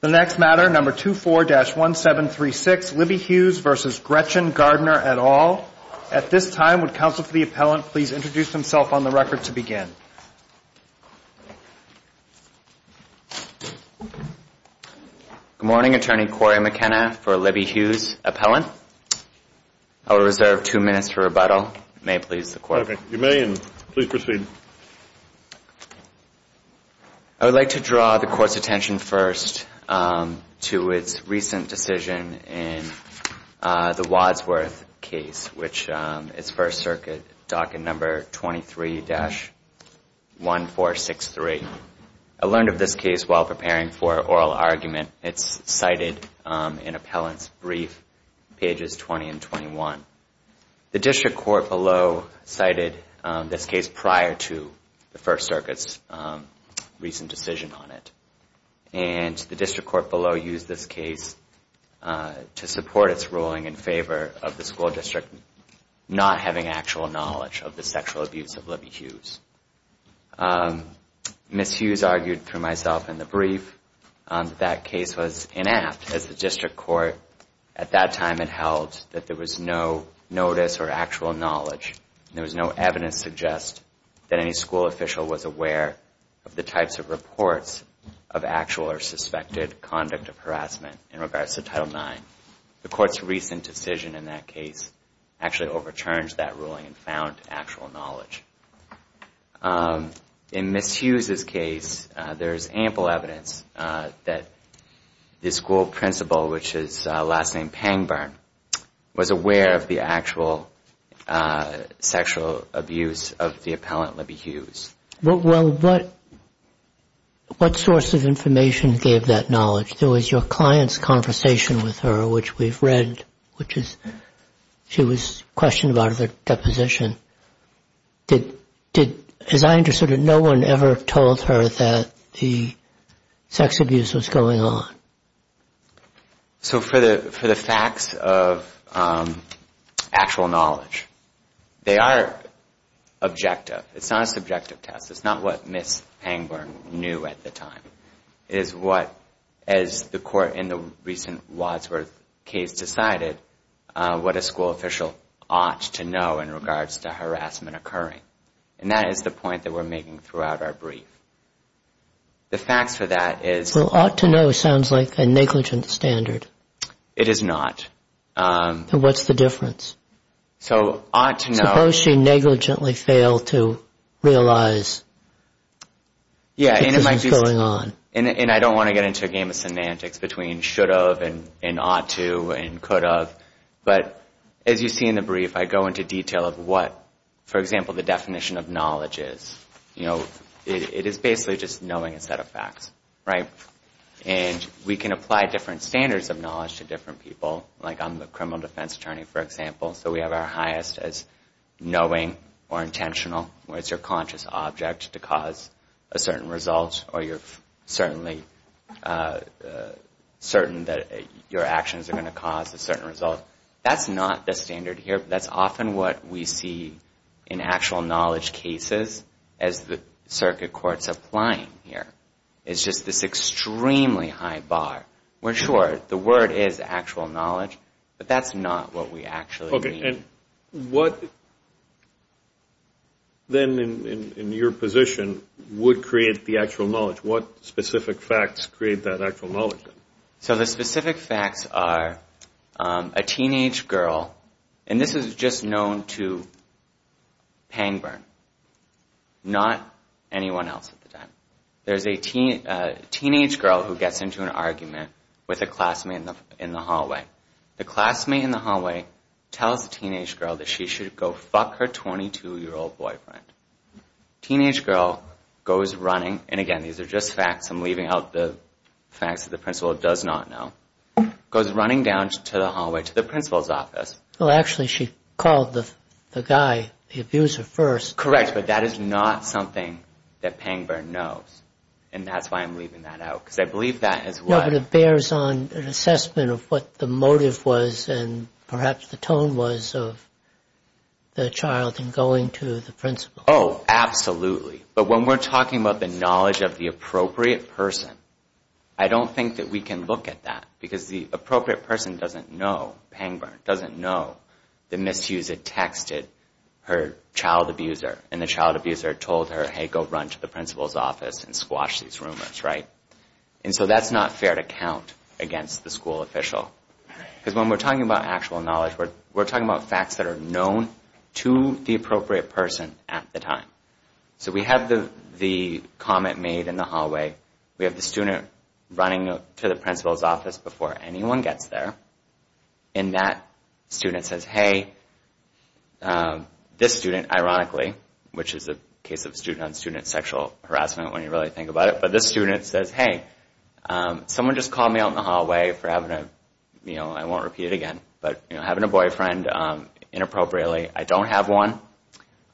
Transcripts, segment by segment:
The next matter, number 24-1736, Libby Hughes v. Gretchen Gardiner et al. At this time, would counsel for the appellant please introduce himself on the record to begin. Good morning, Attorney Corey McKenna for Libby Hughes, appellant. I will reserve two minutes for rebuttal. May it please the Court. You may, and please proceed. I would like to draw the Court's attention first to its recent decision in the Wadsworth case, which is First Circuit, docket number 23-1463. I learned of this case while preparing for oral argument. It's cited in appellant's brief, pages 20 and 21. The District Court below cited this case prior to the First Circuit's recent decision on it. And the District Court below used this case to support its ruling in favor of the school district not having actual knowledge of the sexual abuse of Libby Hughes. Ms. Hughes argued through myself in the brief that that case was inapt, as the District Court at that time had held that there was no notice or actual knowledge. There was no evidence to suggest that any school official was aware of the types of reports of actual or suspected conduct of harassment in regards to Title IX. The Court's recent decision in that case actually overturned that ruling and found actual knowledge. In Ms. Hughes' case, there is ample evidence that the school principal, which is last name Pangburn, was aware of the actual sexual abuse of the appellant Libby Hughes. Well, what source of information gave that knowledge? There was your client's conversation with her, which we've read, which is, she was questioned about her deposition. Did, as I understood it, no one ever told her that the sex abuse was going on? So for the facts of actual knowledge, they are objective. It's not a subjective test. It's not what Ms. Pangburn knew at the time. It is what, as the Court in the recent Wadsworth case decided, what a school official ought to know in regards to harassment occurring. And that is the point that we're making throughout our brief. The facts for that is... Well, ought to know sounds like a negligent standard. It is not. Then what's the difference? So, ought to know... Does she negligently fail to realize that this is going on? Yeah, and I don't want to get into a game of semantics between should of and ought to and could of. But, as you see in the brief, I go into detail of what, for example, the definition of knowledge is. You know, it is basically just knowing a set of facts, right? And we can apply different standards of knowledge to different people. Like, I'm the criminal defense attorney, for example, so we have our highest as knowing or intentional, where it's your conscious object to cause a certain result or you're certainly certain that your actions are going to cause a certain result. That's not the standard here. That's often what we see in actual knowledge cases as the circuit court's applying here. It's just this extremely high bar. We're sure the word is actual knowledge, but that's not what we actually mean. Okay, and what then in your position would create the actual knowledge? What specific facts create that actual knowledge? So, the specific facts are a teenage girl, and this is just known to pang burn, not anyone else at the time. There's a teenage girl who gets into an argument with a classmate in the hallway. The classmate in the hallway tells the teenage girl that she should go fuck her 22-year-old boyfriend. Teenage girl goes running, and again, these are just facts. I'm leaving out the facts that the principal does not know. Goes running down to the hallway to the principal's office. Well, actually, she called the guy, the abuser, first. Correct, but that is not something that pang burn knows, and that's why I'm leaving that out, because I believe that as well. No, but it bears on an assessment of what the motive was and perhaps the tone was of the child in going to the principal. Oh, absolutely. But when we're talking about the knowledge of the appropriate person, I don't think that we can look at that, because the appropriate person doesn't know, pang burn, the misuser texted her child abuser, and the child abuser told her, hey, go run to the principal's office and squash these rumors, right? And so that's not fair to count against the school official, because when we're talking about actual knowledge, we're talking about facts that are known to the appropriate person at the time. So we have the comment made in the hallway. We have the student running to the principal's office before anyone gets there. And that student says, hey, this student, ironically, which is the case of student-on-student sexual harassment when you really think about it, but this student says, hey, someone just called me out in the hallway for having a, I won't repeat it again, but having a boyfriend inappropriately. I don't have one.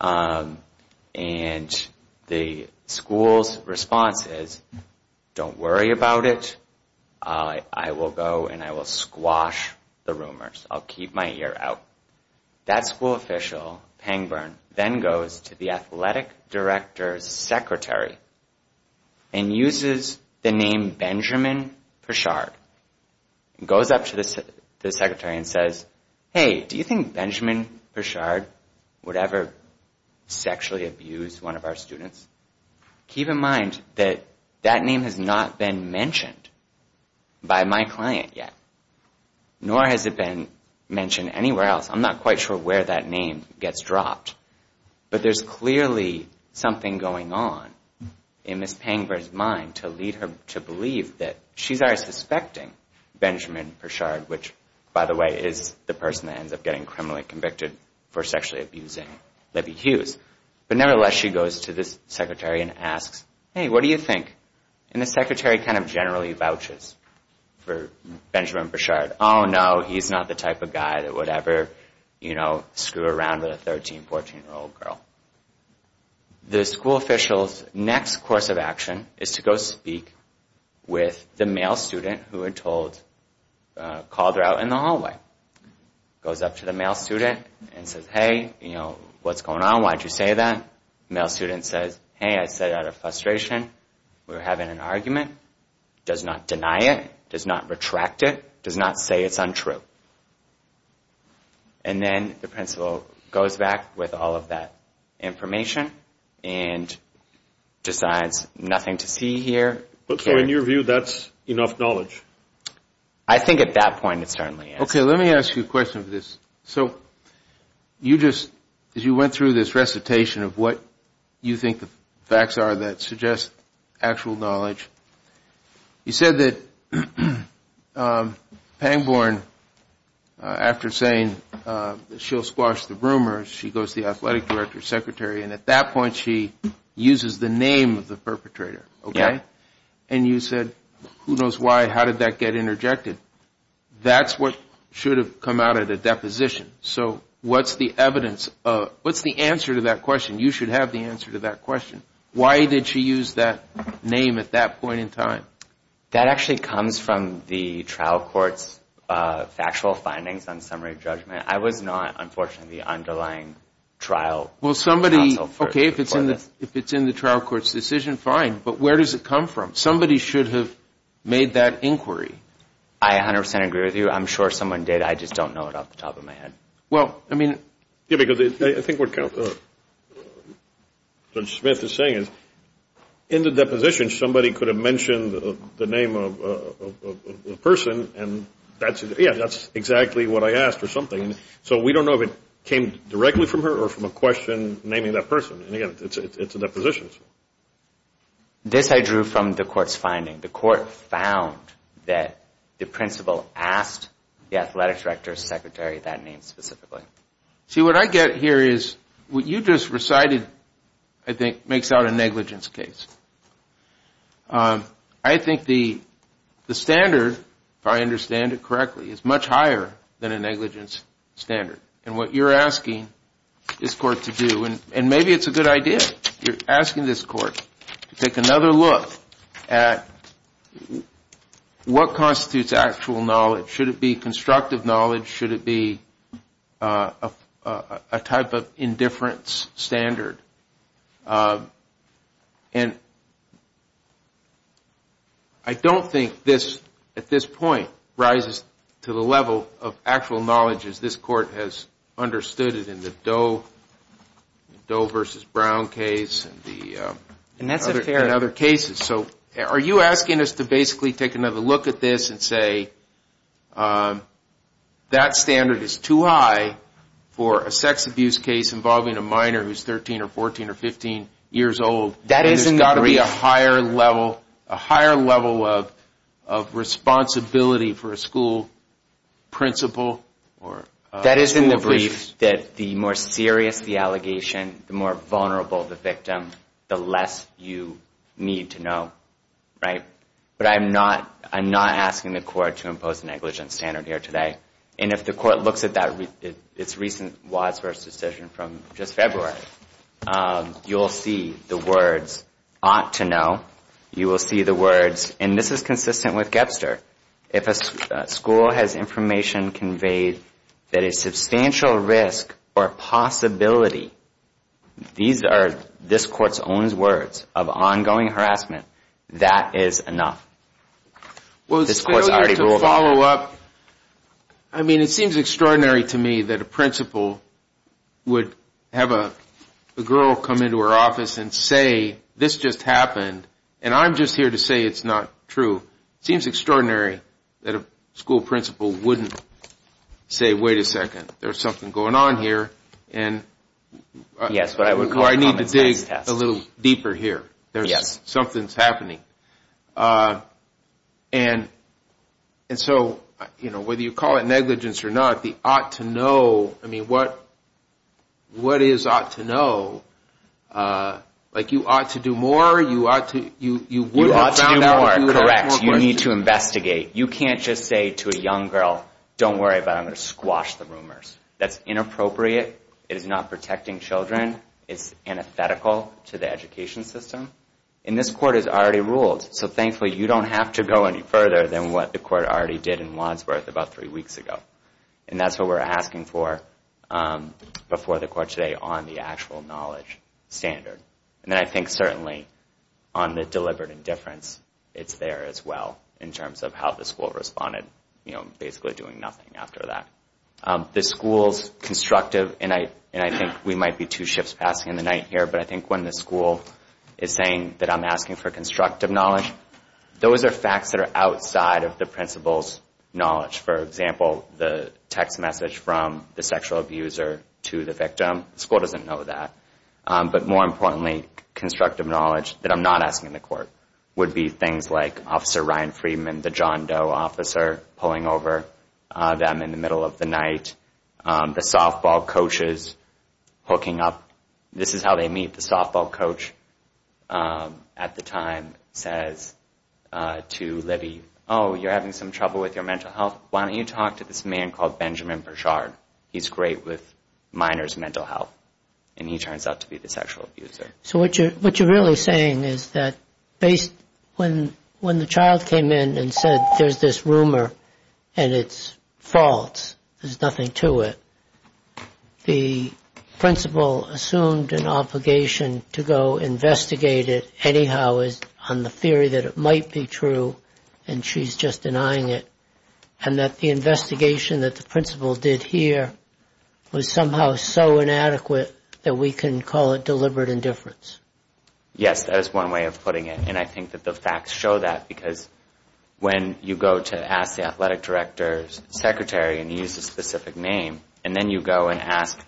And the school's response is, don't worry about it. I will go and I will squash the rumors. I'll keep my ear out. That school official, pang burn, then goes to the athletic director's secretary and uses the name Benjamin Peshard, goes up to the secretary and says, hey, do you think Benjamin Peshard would ever sexually abuse one of our students? Keep in mind that that name has not been mentioned by my client yet. Nor has it been mentioned anywhere else. I'm not quite sure where that name gets dropped. But there's clearly something going on in Ms. Pangburn's mind to lead her to believe that she's already suspecting Benjamin Peshard, which, by the way, is the person that ends up getting criminally convicted for sexually abusing Libby Hughes. But nevertheless, she goes to the secretary and asks, hey, what do you think? And the secretary kind of generally vouches for Benjamin Peshard. Oh, no, he's not the type of guy that would ever screw around with a 13, 14-year-old girl. The school official's next course of action is to go speak with the male student who had called her out in the hallway. Goes up to the male student and says, hey, what's going on? Why'd you say that? The male student says, hey, I said out of frustration. We were having an argument. Does not deny it. Does not retract it. Does not say it's untrue. And then the principal goes back with all of that information and decides nothing to see here. So in your view, that's enough knowledge? I think at that point it certainly is. Okay, let me ask you a question of this. So you just went through this recitation of what you think the facts are that suggest actual knowledge. You said that Pangborn, after saying that she'll squash the rumors, she goes to the athletic director, secretary, and at that point she uses the name of the perpetrator, okay? And you said, who knows why, how did that get interjected? That's what should have come out at a deposition. So what's the evidence? What's the answer to that question? You should have the answer to that question. Why did she use that name at that point in time? That actually comes from the trial court's factual findings on summary judgment. I was not, unfortunately, the underlying trial counsel for this. Okay, if it's in the trial court's decision, fine. But where does it come from? Somebody should have made that inquiry. I 100% agree with you. I'm sure someone did. I just don't know it off the top of my head. Well, I mean – Yeah, because I think what Judge Smith is saying is in the deposition, somebody could have mentioned the name of a person, and yeah, that's exactly what I asked or something. So we don't know if it came directly from her or from a question naming that person. And, again, it's a deposition. This I drew from the court's finding. The court found that the principal asked the athletic director's secretary that name specifically. See, what I get here is what you just recited, I think, makes out a negligence case. I think the standard, if I understand it correctly, is much higher than a negligence standard. And what you're asking this court to do, and maybe it's a good idea. You're asking this court to take another look at what constitutes actual knowledge. Should it be constructive knowledge? Should it be a type of indifference standard? And I don't think this, at this point, rises to the level of actual knowledge as this court has understood it in the Doe v. Brown case and other cases. So are you asking us to basically take another look at this and say, that standard is too high for a sex abuse case involving a minor who's 13 or 14 or 15 years old? There's got to be a higher level of responsibility for a school principal. That is in the brief that the more serious the allegation, the more vulnerable the victim, the less you need to know. But I'm not asking the court to impose a negligence standard here today. And if the court looks at its recent Wadsworth's decision from just February, you'll see the words, ought to know. You will see the words, and this is consistent with Gebster. If a school has information conveyed that a substantial risk or possibility, these are this court's own words, of ongoing harassment, that is enough. This court's already ruled on that. I mean, it seems extraordinary to me that a principal would have a girl come into her office and say, this just happened, and I'm just here to say it's not true. It seems extraordinary that a school principal wouldn't say, wait a second, there's something going on here, and I need to dig a little deeper here. Something's happening. And so whether you call it negligence or not, the ought to know, I mean, what is ought to know? Like you ought to do more, you ought to, you wouldn't have found out. You ought to do more, correct. You need to investigate. You can't just say to a young girl, don't worry about it, I'm going to squash the rumors. That's inappropriate. It is not protecting children. It's antithetical to the education system. And this court has already ruled, so thankfully you don't have to go any further than what the court already did in Wadsworth about three weeks ago. And that's what we're asking for before the court today on the actual knowledge standard. And then I think certainly on the deliberate indifference, it's there as well in terms of how the school responded, you know, basically doing nothing after that. The school's constructive, and I think we might be two shifts passing in the night here, but I think when the school is saying that I'm asking for constructive knowledge, those are facts that are outside of the principal's knowledge. For example, the text message from the sexual abuser to the victim. The school doesn't know that. But more importantly, constructive knowledge that I'm not asking the court would be things like Officer Ryan Friedman, the John Doe officer, pulling over them in the middle of the night. The softball coaches hooking up. This is how they meet. The softball coach at the time says to Libby, oh, you're having some trouble with your mental health. Why don't you talk to this man called Benjamin Burchard? He's great with minors' mental health, and he turns out to be the sexual abuser. So what you're really saying is that when the child came in and said, there's this rumor and it's false, there's nothing to it, the principal assumed an obligation to go investigate it anyhow on the theory that it might be true, and she's just denying it, and that the investigation that the principal did here was somehow so inadequate that we can call it deliberate indifference. Yes, that is one way of putting it, and I think that the facts show that because when you go to ask the athletic director's secretary and use a specific name, and then you go and ask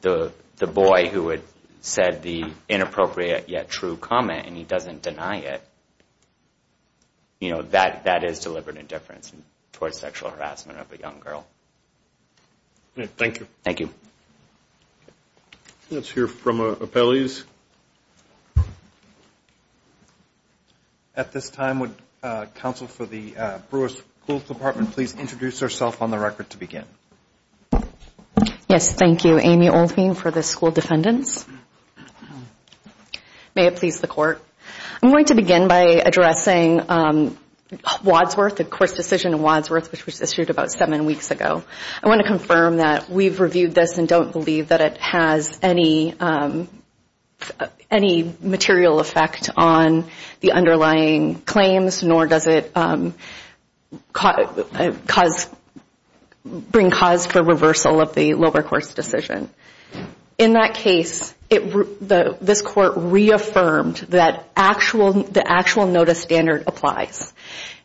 the boy who had said the inappropriate yet true comment, and he doesn't deny it, that is deliberate indifference towards sexual harassment of a young girl. Thank you. Let's hear from our appellees. At this time, would counsel for the Brewer School Department please introduce herself on the record to begin? Yes, thank you. Amy Oldfield for the School Defendants. May it please the Court. I'm going to begin by addressing Wadsworth, the court's decision in Wadsworth, which was issued about seven weeks ago. I want to confirm that we've reviewed this and don't believe that it has any material effect on the underlying claims, nor does it bring cause for reversal of the lower course decision. In that case, this court reaffirmed that the actual notice standard applies.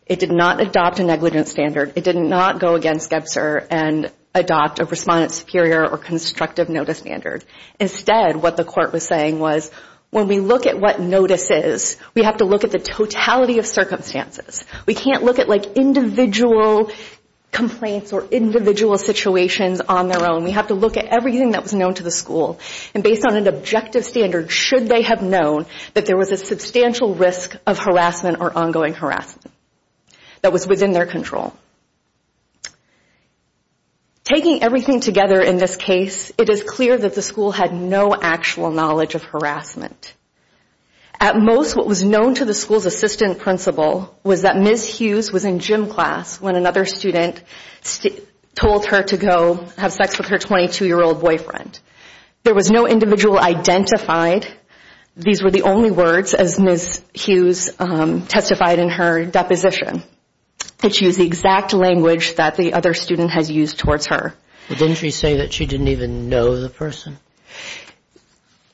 It did not adopt a negligence standard. It did not go against Gebser and adopt a respondent superior or constructive notice standard. Instead, what the court was saying was, when we look at what notice is, we have to look at the totality of circumstances. We can't look at, like, individual complaints or individual situations on their own. We have to look at everything that was known to the school, and based on an objective standard, should they have known that there was a substantial risk of harassment or ongoing harassment that was within their control. Taking everything together in this case, it is clear that the school had no actual knowledge of harassment. At most, what was known to the school's assistant principal was that Ms. Hughes was in gym class when another student told her to go have sex with her 22-year-old boyfriend. There was no individual identified. These were the only words, as Ms. Hughes testified in her deposition. She used the exact language that the other student has used towards her. Didn't she say that she didn't even know the person?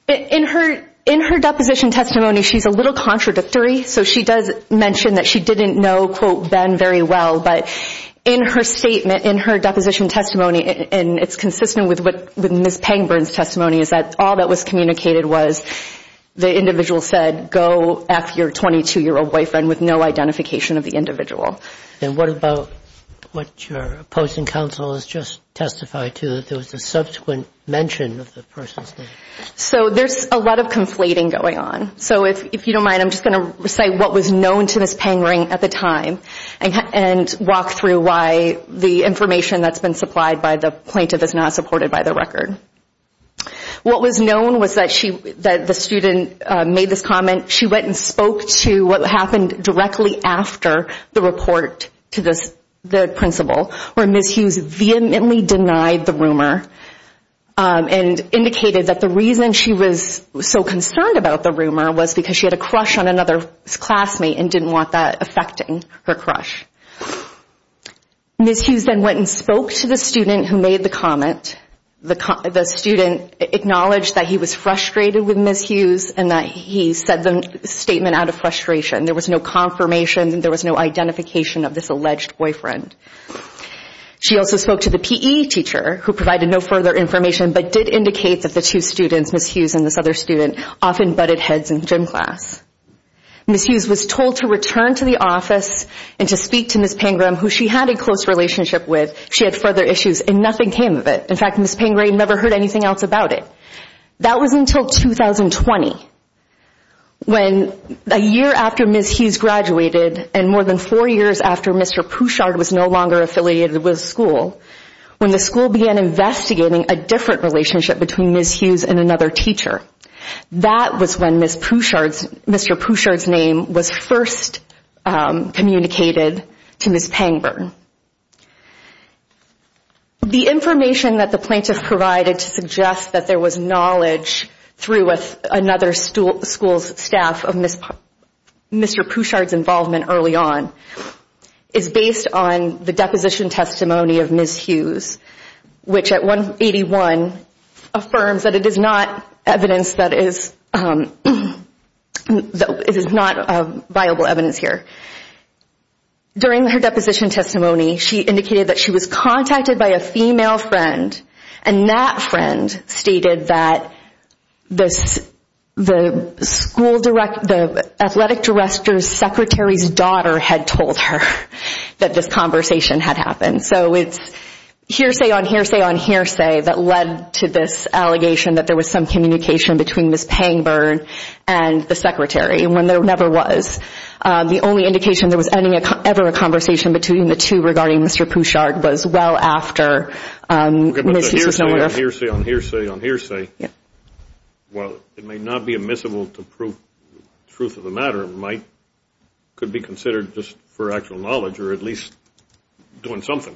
In her deposition testimony, she's a little contradictory, so she does mention that she didn't know, quote, Ben very well, but in her statement, in her deposition testimony, and it's consistent with Ms. Pangburn's testimony, is that all that was communicated was the individual said, go F your 22-year-old boyfriend with no identification of the individual. And what about what your opposing counsel has just testified to, that there was a subsequent mention of the person's name? So there's a lot of conflating going on. So if you don't mind, I'm just going to say what was known to Ms. Pangburn at the time and walk through why the information that's been supplied by the plaintiff is not supported by the record. What was known was that the student made this comment. She went and spoke to what happened directly after the report to the principal, where Ms. Hughes vehemently denied the rumor and indicated that the reason she was so concerned about the rumor was because she had a crush on another classmate and didn't want that affecting her crush. Ms. Hughes then went and spoke to the student who made the comment. The student acknowledged that he was frustrated with Ms. Hughes and that he said the statement out of frustration. There was no confirmation. There was no identification of this alleged boyfriend. She also spoke to the PE teacher who provided no further information but did indicate that the two students, Ms. Hughes and this other student, often butted heads in gym class. Ms. Hughes was told to return to the office and to speak to Ms. Pangburn, who she had a close relationship with. She had further issues, and nothing came of it. In fact, Ms. Pangburn never heard anything else about it. That was until 2020, a year after Ms. Hughes graduated and more than four years after Mr. Pouchard was no longer affiliated with the school, when the school began investigating a different relationship between Ms. Hughes and another teacher. That was when Mr. Pouchard's name was first communicated to Ms. Pangburn. The information that the plaintiff provided to suggest that there was knowledge through another school's staff of Mr. Pouchard's involvement early on is based on the deposition testimony of Ms. Hughes, which at 181 affirms that it is not viable evidence here. During her deposition testimony, she indicated that she was contacted by a female friend and that friend stated that the athletic director's secretary's daughter had told her that this conversation had happened. So it's hearsay on hearsay on hearsay that led to this allegation that there was some communication between Ms. Pangburn and the secretary, when there never was. The only indication there was ever a conversation between the two regarding Mr. Pouchard was well after Ms. Hughes was no longer affiliated. Hearsay on hearsay on hearsay. While it may not be admissible to prove the truth of the matter, it could be considered just for actual knowledge or at least doing something.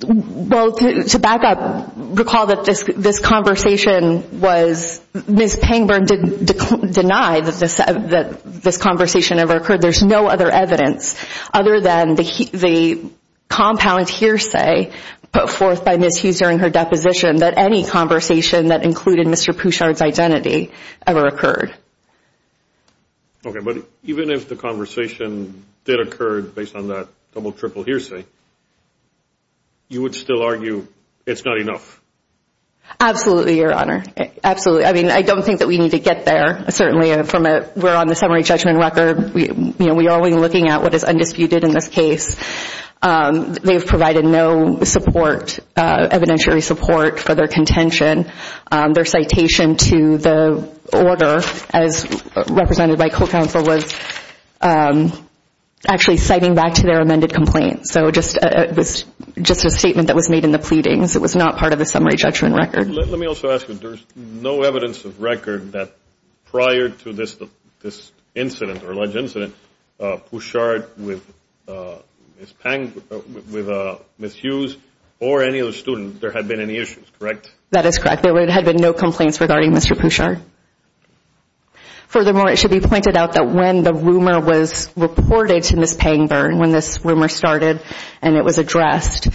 To back up, recall that this conversation was, Ms. Pangburn denied that this conversation ever occurred. There's no other evidence other than the compound hearsay put forth by Ms. Hughes during her deposition that any conversation that included Mr. Pouchard's identity ever occurred. Okay, but even if the conversation did occur based on that double-triple hearsay, you would still argue it's not enough? Absolutely, Your Honor. Absolutely. I mean, I don't think that we need to get there. Certainly, we're on the summary judgment record. We are only looking at what is undisputed in this case. They've provided no support, evidentiary support for their contention. Their citation to the order as represented by co-counsel was actually citing back to their amended complaint. So it was just a statement that was made in the pleadings. It was not part of the summary judgment record. Let me also ask you, there's no evidence of record that prior to this incident or alleged incident, Pouchard with Ms. Hughes or any other student, there had been any issues, correct? That is correct. There had been no complaints regarding Mr. Pouchard. Furthermore, it should be pointed out that when the rumor was reported to Ms. Pangburn, when this rumor started and it was addressed,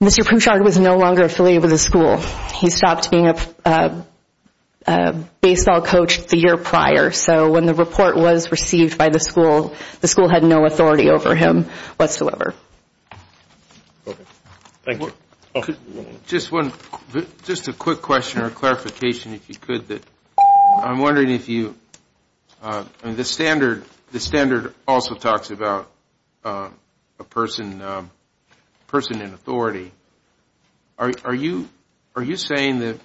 Mr. Pouchard was no longer affiliated with the school. He stopped being a baseball coach the year prior. So when the report was received by the school, the school had no authority over him whatsoever. Thank you. Just a quick question or clarification if you could. I'm wondering if you, the standard also talks about a person in authority. Are you saying that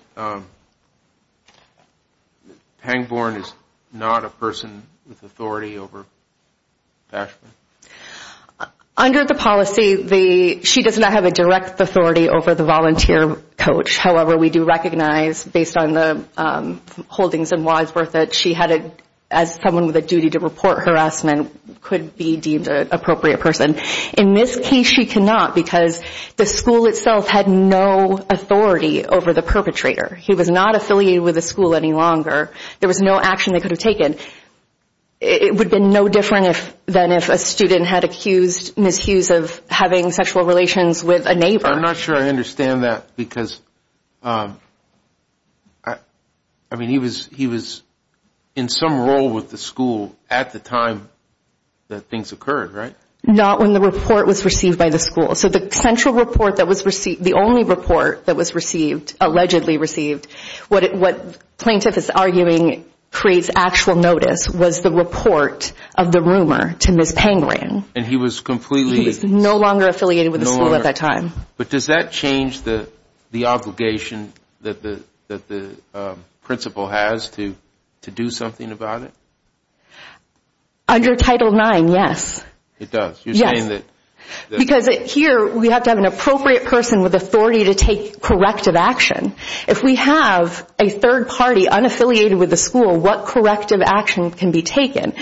Pangburn is not a person with authority over Bashford? Under the policy, she does not have a direct authority over the volunteer coach. However, we do recognize, based on the holdings and why it's worth it, she had, as someone with a duty to report harassment, could be deemed an appropriate person. In this case, she cannot because the school itself had no authority over the perpetrator. He was not affiliated with the school any longer. There was no action they could have taken. It would have been no different than if a student had accused Ms. Hughes of having sexual relations with a neighbor. I'm not sure I understand that because, I mean, he was in some role with the school at the time that things occurred, right? Not when the report was received by the school. So the central report that was received, the only report that was received, allegedly received, what plaintiff is arguing creates actual notice was the report of the rumor to Ms. Pangburn. And he was completely- He was no longer affiliated with the school at that time. But does that change the obligation that the principal has to do something about it? Under Title IX, yes. It does? You're saying that- Because here we have to have an appropriate person with authority to take corrective action. If we have a third party unaffiliated with the school, what corrective action can be taken?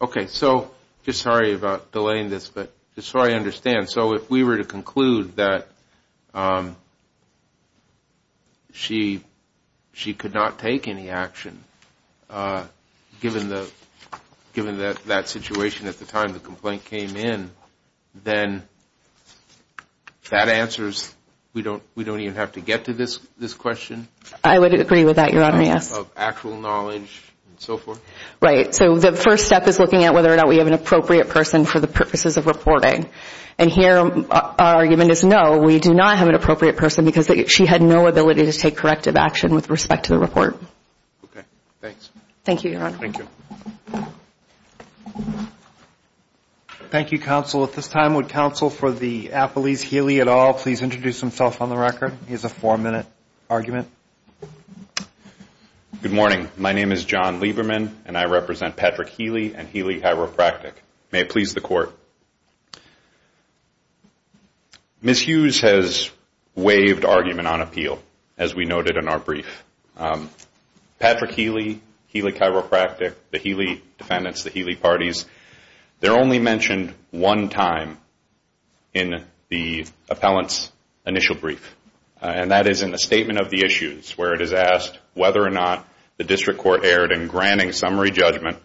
Okay, so just sorry about delaying this, but just so I understand, so if we were to conclude that she could not take any action, given that situation at the time the complaint came in, then that answers, we don't even have to get to this question? I would agree with that, Your Honor, yes. Of actual knowledge and so forth? Right, so the first step is looking at whether or not we have an appropriate person for the purposes of reporting. And here our argument is no, we do not have an appropriate person because she had no ability to take corrective action with respect to the report. Okay, thanks. Thank you, Your Honor. Thank you, counsel. At this time, would counsel for the appellees, Healy et al., please introduce himself on the record? He has a four-minute argument. Good morning. My name is John Lieberman, and I represent Patrick Healy and Healy Chiropractic. May it please the Court. Ms. Hughes has waived argument on appeal, as we noted in our brief. Patrick Healy, Healy Chiropractic, the Healy defendants, the Healy parties, they're only mentioned one time in the appellant's initial brief, and that is in the statement of the issues where it is asked whether or not the district court erred in granting summary judgment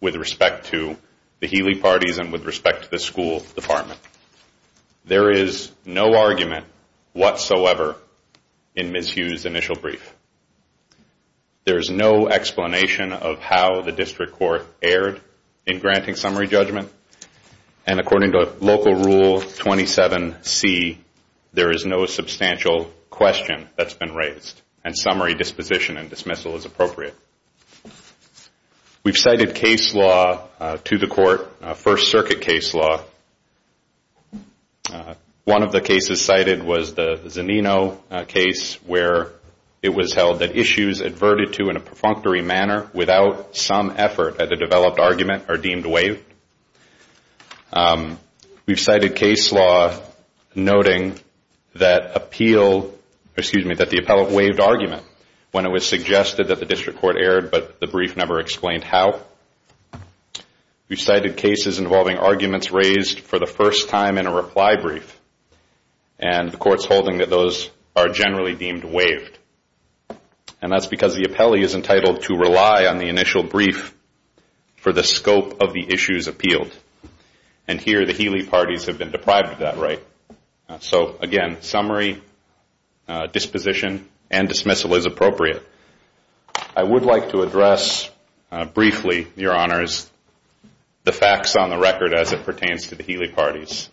with respect to the Healy parties and with respect to the school department. There is no argument whatsoever in Ms. Hughes' initial brief. There is no explanation of how the district court erred in granting summary judgment, and according to Local Rule 27C, there is no substantial question that's been raised, and summary disposition and dismissal is appropriate. We've cited case law to the Court, First Circuit case law. One of the cases cited was the Zanino case, where it was held that issues adverted to in a perfunctory manner without some effort at a developed argument are deemed waived. We've cited case law noting that the appellant waived argument when it was suggested that the district court erred, but the brief never explained how. We've cited cases involving arguments raised for the first time in a reply brief, and the Court's holding that those are generally deemed waived, and that's because the appellee is entitled to rely on the initial brief for the scope of the issues appealed, and here the Healy parties have been deprived of that right. So again, summary disposition and dismissal is appropriate. I would like to address briefly, Your Honors, the facts on the record as it pertains to the Healy parties.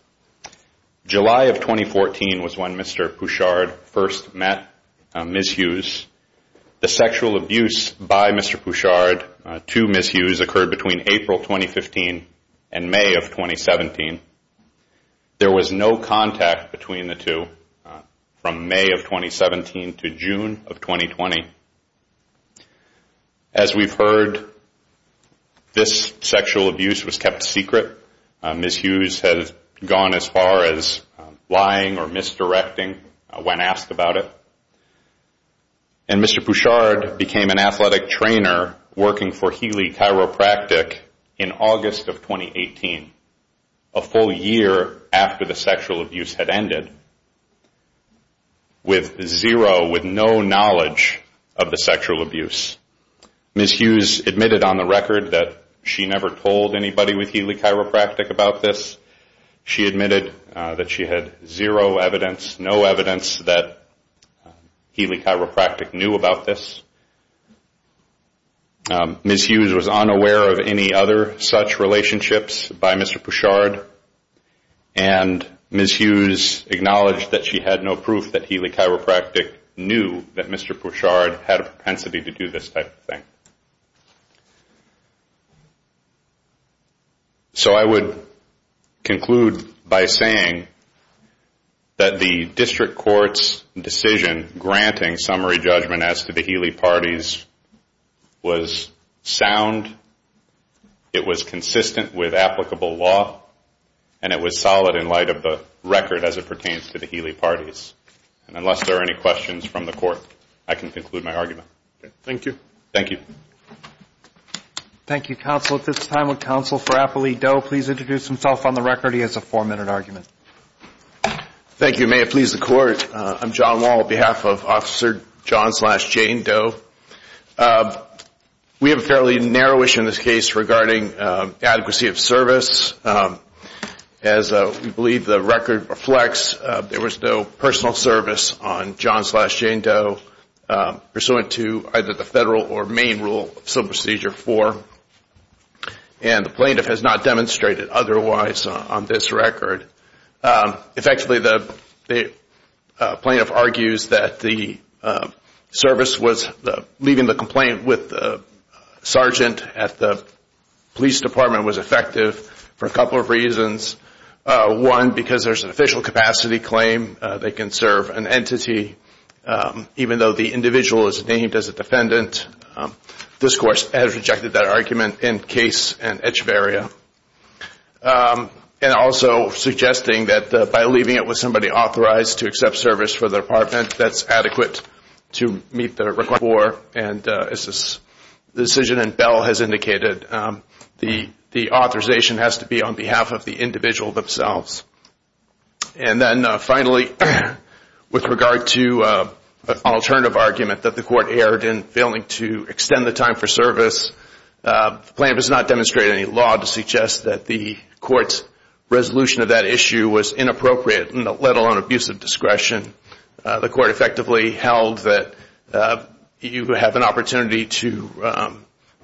July of 2014 was when Mr. Pouchard first met Ms. Hughes. The sexual abuse by Mr. Pouchard to Ms. Hughes occurred between April 2015 and May of 2017. There was no contact between the two from May of 2017 to June of 2020. As we've heard, this sexual abuse was kept secret. Ms. Hughes has gone as far as lying or misdirecting when asked about it. And Mr. Pouchard became an athletic trainer working for Healy Chiropractic in August of 2018, a full year after the sexual abuse had ended, with zero, with no knowledge of the sexual abuse. Ms. Hughes admitted on the record that she never told anybody with Healy Chiropractic about this. She admitted that she had zero evidence, no evidence that Healy Chiropractic knew about this. Ms. Hughes was unaware of any other such relationships by Mr. Pouchard, and Ms. Hughes acknowledged that she had no proof that Healy Chiropractic knew that Mr. Pouchard had a propensity to do this type of thing. So I would conclude by saying that the district court's decision granting summary judgment as to the Healy parties was sound, it was consistent with applicable law, and it was solid in light of the record as it pertains to the Healy parties. And unless there are any questions from the court, I can conclude my argument. Thank you. Thank you. Thank you, counsel. At this time, would counsel for Applee Doe please introduce himself on the record? He has a four-minute argument. Thank you. May it please the court, I'm John Wall on behalf of Officer John slash Jane Doe. We have a fairly narrow issue in this case regarding adequacy of service. As we believe the record reflects, there was no personal service on John slash Jane Doe, pursuant to either the federal or Maine rule of civil procedure four, and the plaintiff has not demonstrated otherwise on this record. Effectively, the plaintiff argues that the service was leaving the complaint with the sergeant at the police department was effective, for a couple of reasons. One, because there's an official capacity claim, they can serve an entity, even though the individual is named as a defendant. This court has rejected that argument in case in Echeverria. And also suggesting that by leaving it with somebody authorized to accept service for the department, that's adequate to meet the requirement for, and as the decision in Bell has indicated, the authorization has to be on behalf of the individual themselves. And then finally, with regard to an alternative argument that the court erred in failing to extend the time for service, the plaintiff has not demonstrated any law to suggest that the court's resolution of that issue was inappropriate, let alone abusive discretion. The court effectively held that you have an opportunity to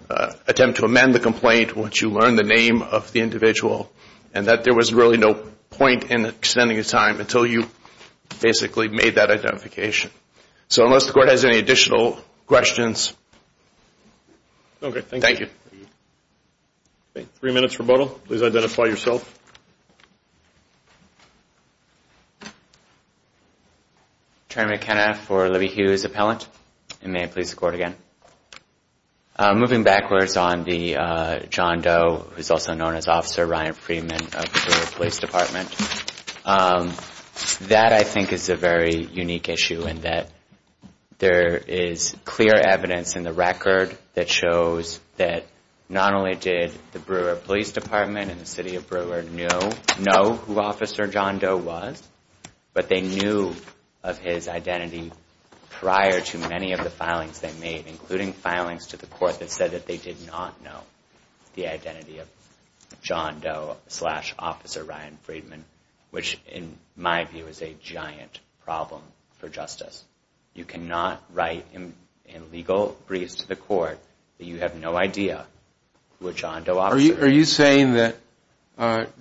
attempt to amend the complaint once you learn the name of the individual, and that there was really no point in extending the time until you basically made that identification. So unless the court has any additional questions. Okay, thank you. Okay, three minutes rebuttal. Please identify yourself. Attorney McKenna for Libby Hughes Appellant, and may I please record again. Moving backwards on the John Doe, who's also known as Officer Ryan Freeman of the Bureau of Police Department, that I think is a very unique issue in that there is clear evidence in the record that shows that not only did the Bureau of Police Department and the City of Brewer know who Officer John Doe was, but they knew of his identity prior to many of the filings they made, including filings to the court that said that they did not know the identity of John Doe slash Officer Ryan Freeman, which in my view is a giant problem for justice. You cannot write in legal briefs to the court that you have no idea who a John Doe officer is. Are you saying that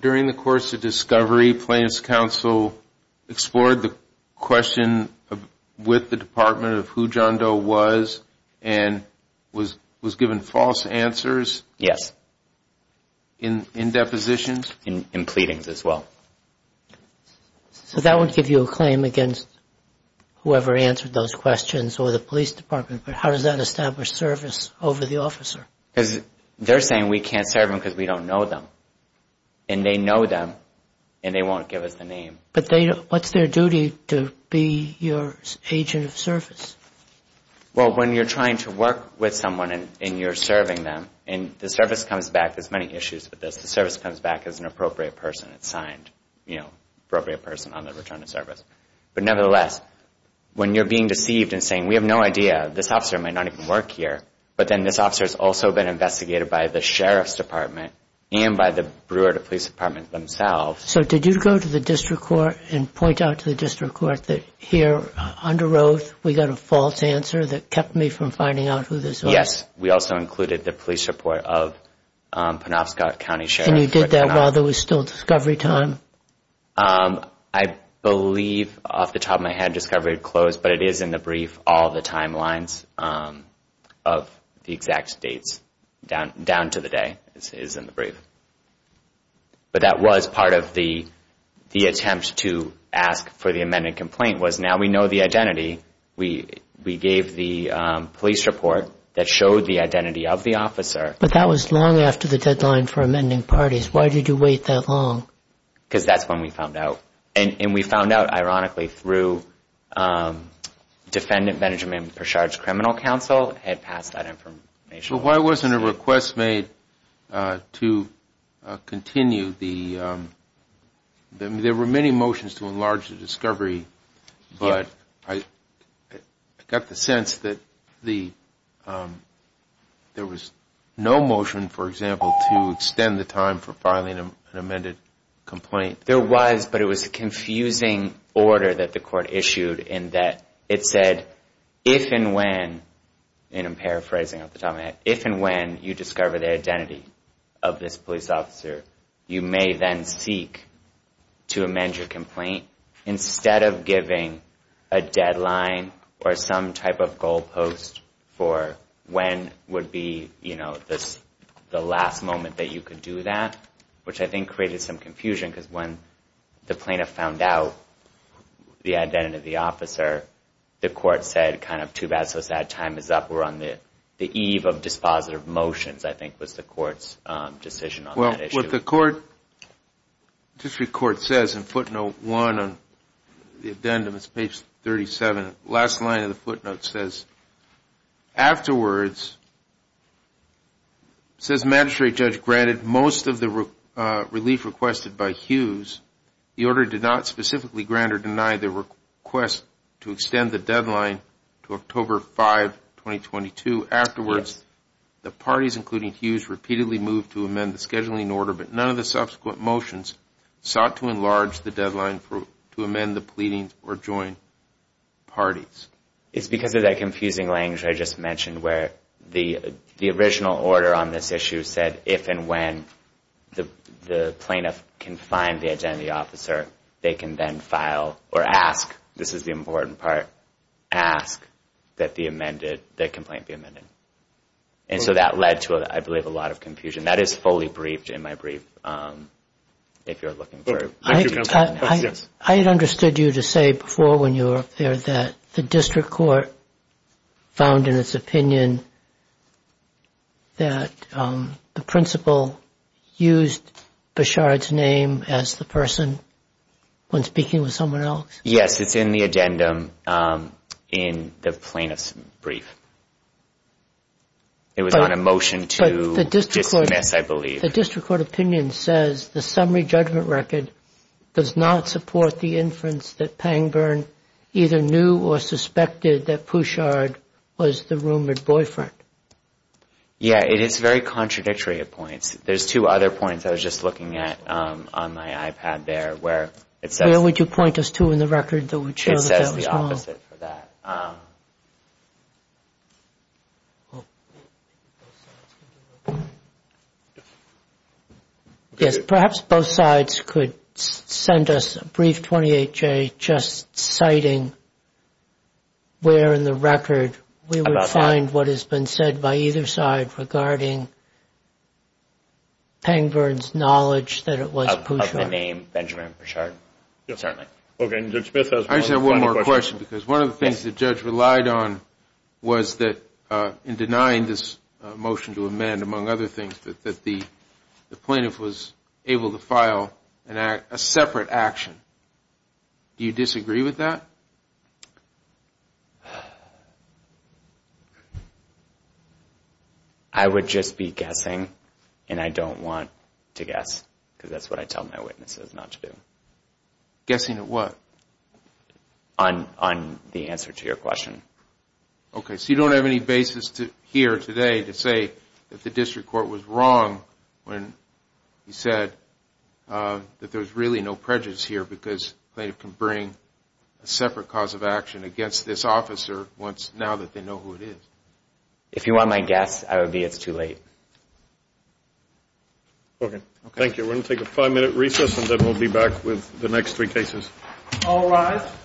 during the course of discovery, plaintiff's counsel explored the question with the Department of who John Doe was and was given false answers? Yes. In depositions? In pleadings as well. So that would give you a claim against whoever answered those questions or the police department, but how does that establish service over the officer? Because they're saying we can't serve them because we don't know them, and they know them, and they won't give us the name. But what's their duty to be your agent of service? Well, when you're trying to work with someone and you're serving them, and the service comes back, there's many issues with this, the service comes back as an appropriate person. It's signed, you know, appropriate person on the return of service. But nevertheless, when you're being deceived and saying we have no idea, this officer might not even work here, but then this officer has also been investigated by the sheriff's department and by the Brewer to police department themselves. So did you go to the district court and point out to the district court that here under oath we got a false answer that kept me from finding out who this officer was? Yes, we also included the police report of Penobscot County Sheriff. And you did that while there was still discovery time? I believe off the top of my head discovery had closed, but it is in the brief, all the timelines of the exact dates down to the day is in the brief. But that was part of the attempt to ask for the amended complaint was now we know the identity. We gave the police report that showed the identity of the officer. But that was long after the deadline for amending parties. Why did you wait that long? Because that's when we found out. And we found out, ironically, through defendant management, Prashad's criminal counsel had passed that information. But why wasn't a request made to continue the, there were many motions to enlarge the discovery, but I got the sense that there was no motion, for example, to extend the time for filing an amended complaint. There was, but it was a confusing order that the court issued in that it said, if and when, and I'm paraphrasing off the top of my head, if and when you discover the identity of this police officer, you may then seek to amend your complaint instead of giving a deadline or some type of goalpost for when would be the last moment that you could do that, which I think created some confusion because when the plaintiff found out the identity of the officer, the court said kind of too bad, so sad, time is up. We're on the eve of dispositive motions, I think, was the court's decision on that issue. What the court, District Court says in footnote one on the addendum, it's page 37, last line of the footnote says, afterwards, says magistrate judge granted most of the relief requested by Hughes. The order did not specifically grant or deny the request to extend the deadline to October 5, 2022. Afterwards, the parties, including Hughes, repeatedly moved to amend the scheduling order, but none of the subsequent motions sought to enlarge the deadline to amend the pleading or joint parties. It's because of that confusing language I just mentioned where the original order on this issue said, if and when the plaintiff can find the identity of the officer, they can then file or ask, this is the important part, ask that the complaint be amended. And so that led to, I believe, a lot of confusion. That is fully briefed in my brief, if you're looking for it. Thank you, counsel. I had understood you to say before when you were up there that the District Court found in its opinion that the principal used Beshard's name as the person when speaking with someone else. Yes, it's in the addendum in the plaintiff's brief. It was on a motion to dismiss, I believe. The District Court opinion says the summary judgment record does not support the inference that Pangburn either knew or suspected that Pouchard was the rumored boyfriend. Yeah, it is very contradictory at points. There's two other points I was just looking at on my iPad there where it says. How would you point us to in the record that would show that that was wrong? It says the opposite for that. Perhaps both sides could send us a brief 28-J just citing where in the record we would find what has been said by either side regarding Pangburn's knowledge that it was Pouchard. Of the name Benjamin Beshard. I just have one more question because one of the things the judge relied on was that in denying this motion to amend, among other things, that the plaintiff was able to file a separate action. Do you disagree with that? I would just be guessing and I don't want to guess because that's what I tell my witnesses not to do. Guessing at what? On the answer to your question. Okay, so you don't have any basis here today to say that the District Court was wrong when you said that there was really no prejudice here because the plaintiff can bring a separate cause of action against this officer once, now that they know who it is. If you want my guess, I would be it's too late. Okay, thank you. We're going to take a five minute recess and then we'll be back with the next three cases. All rise.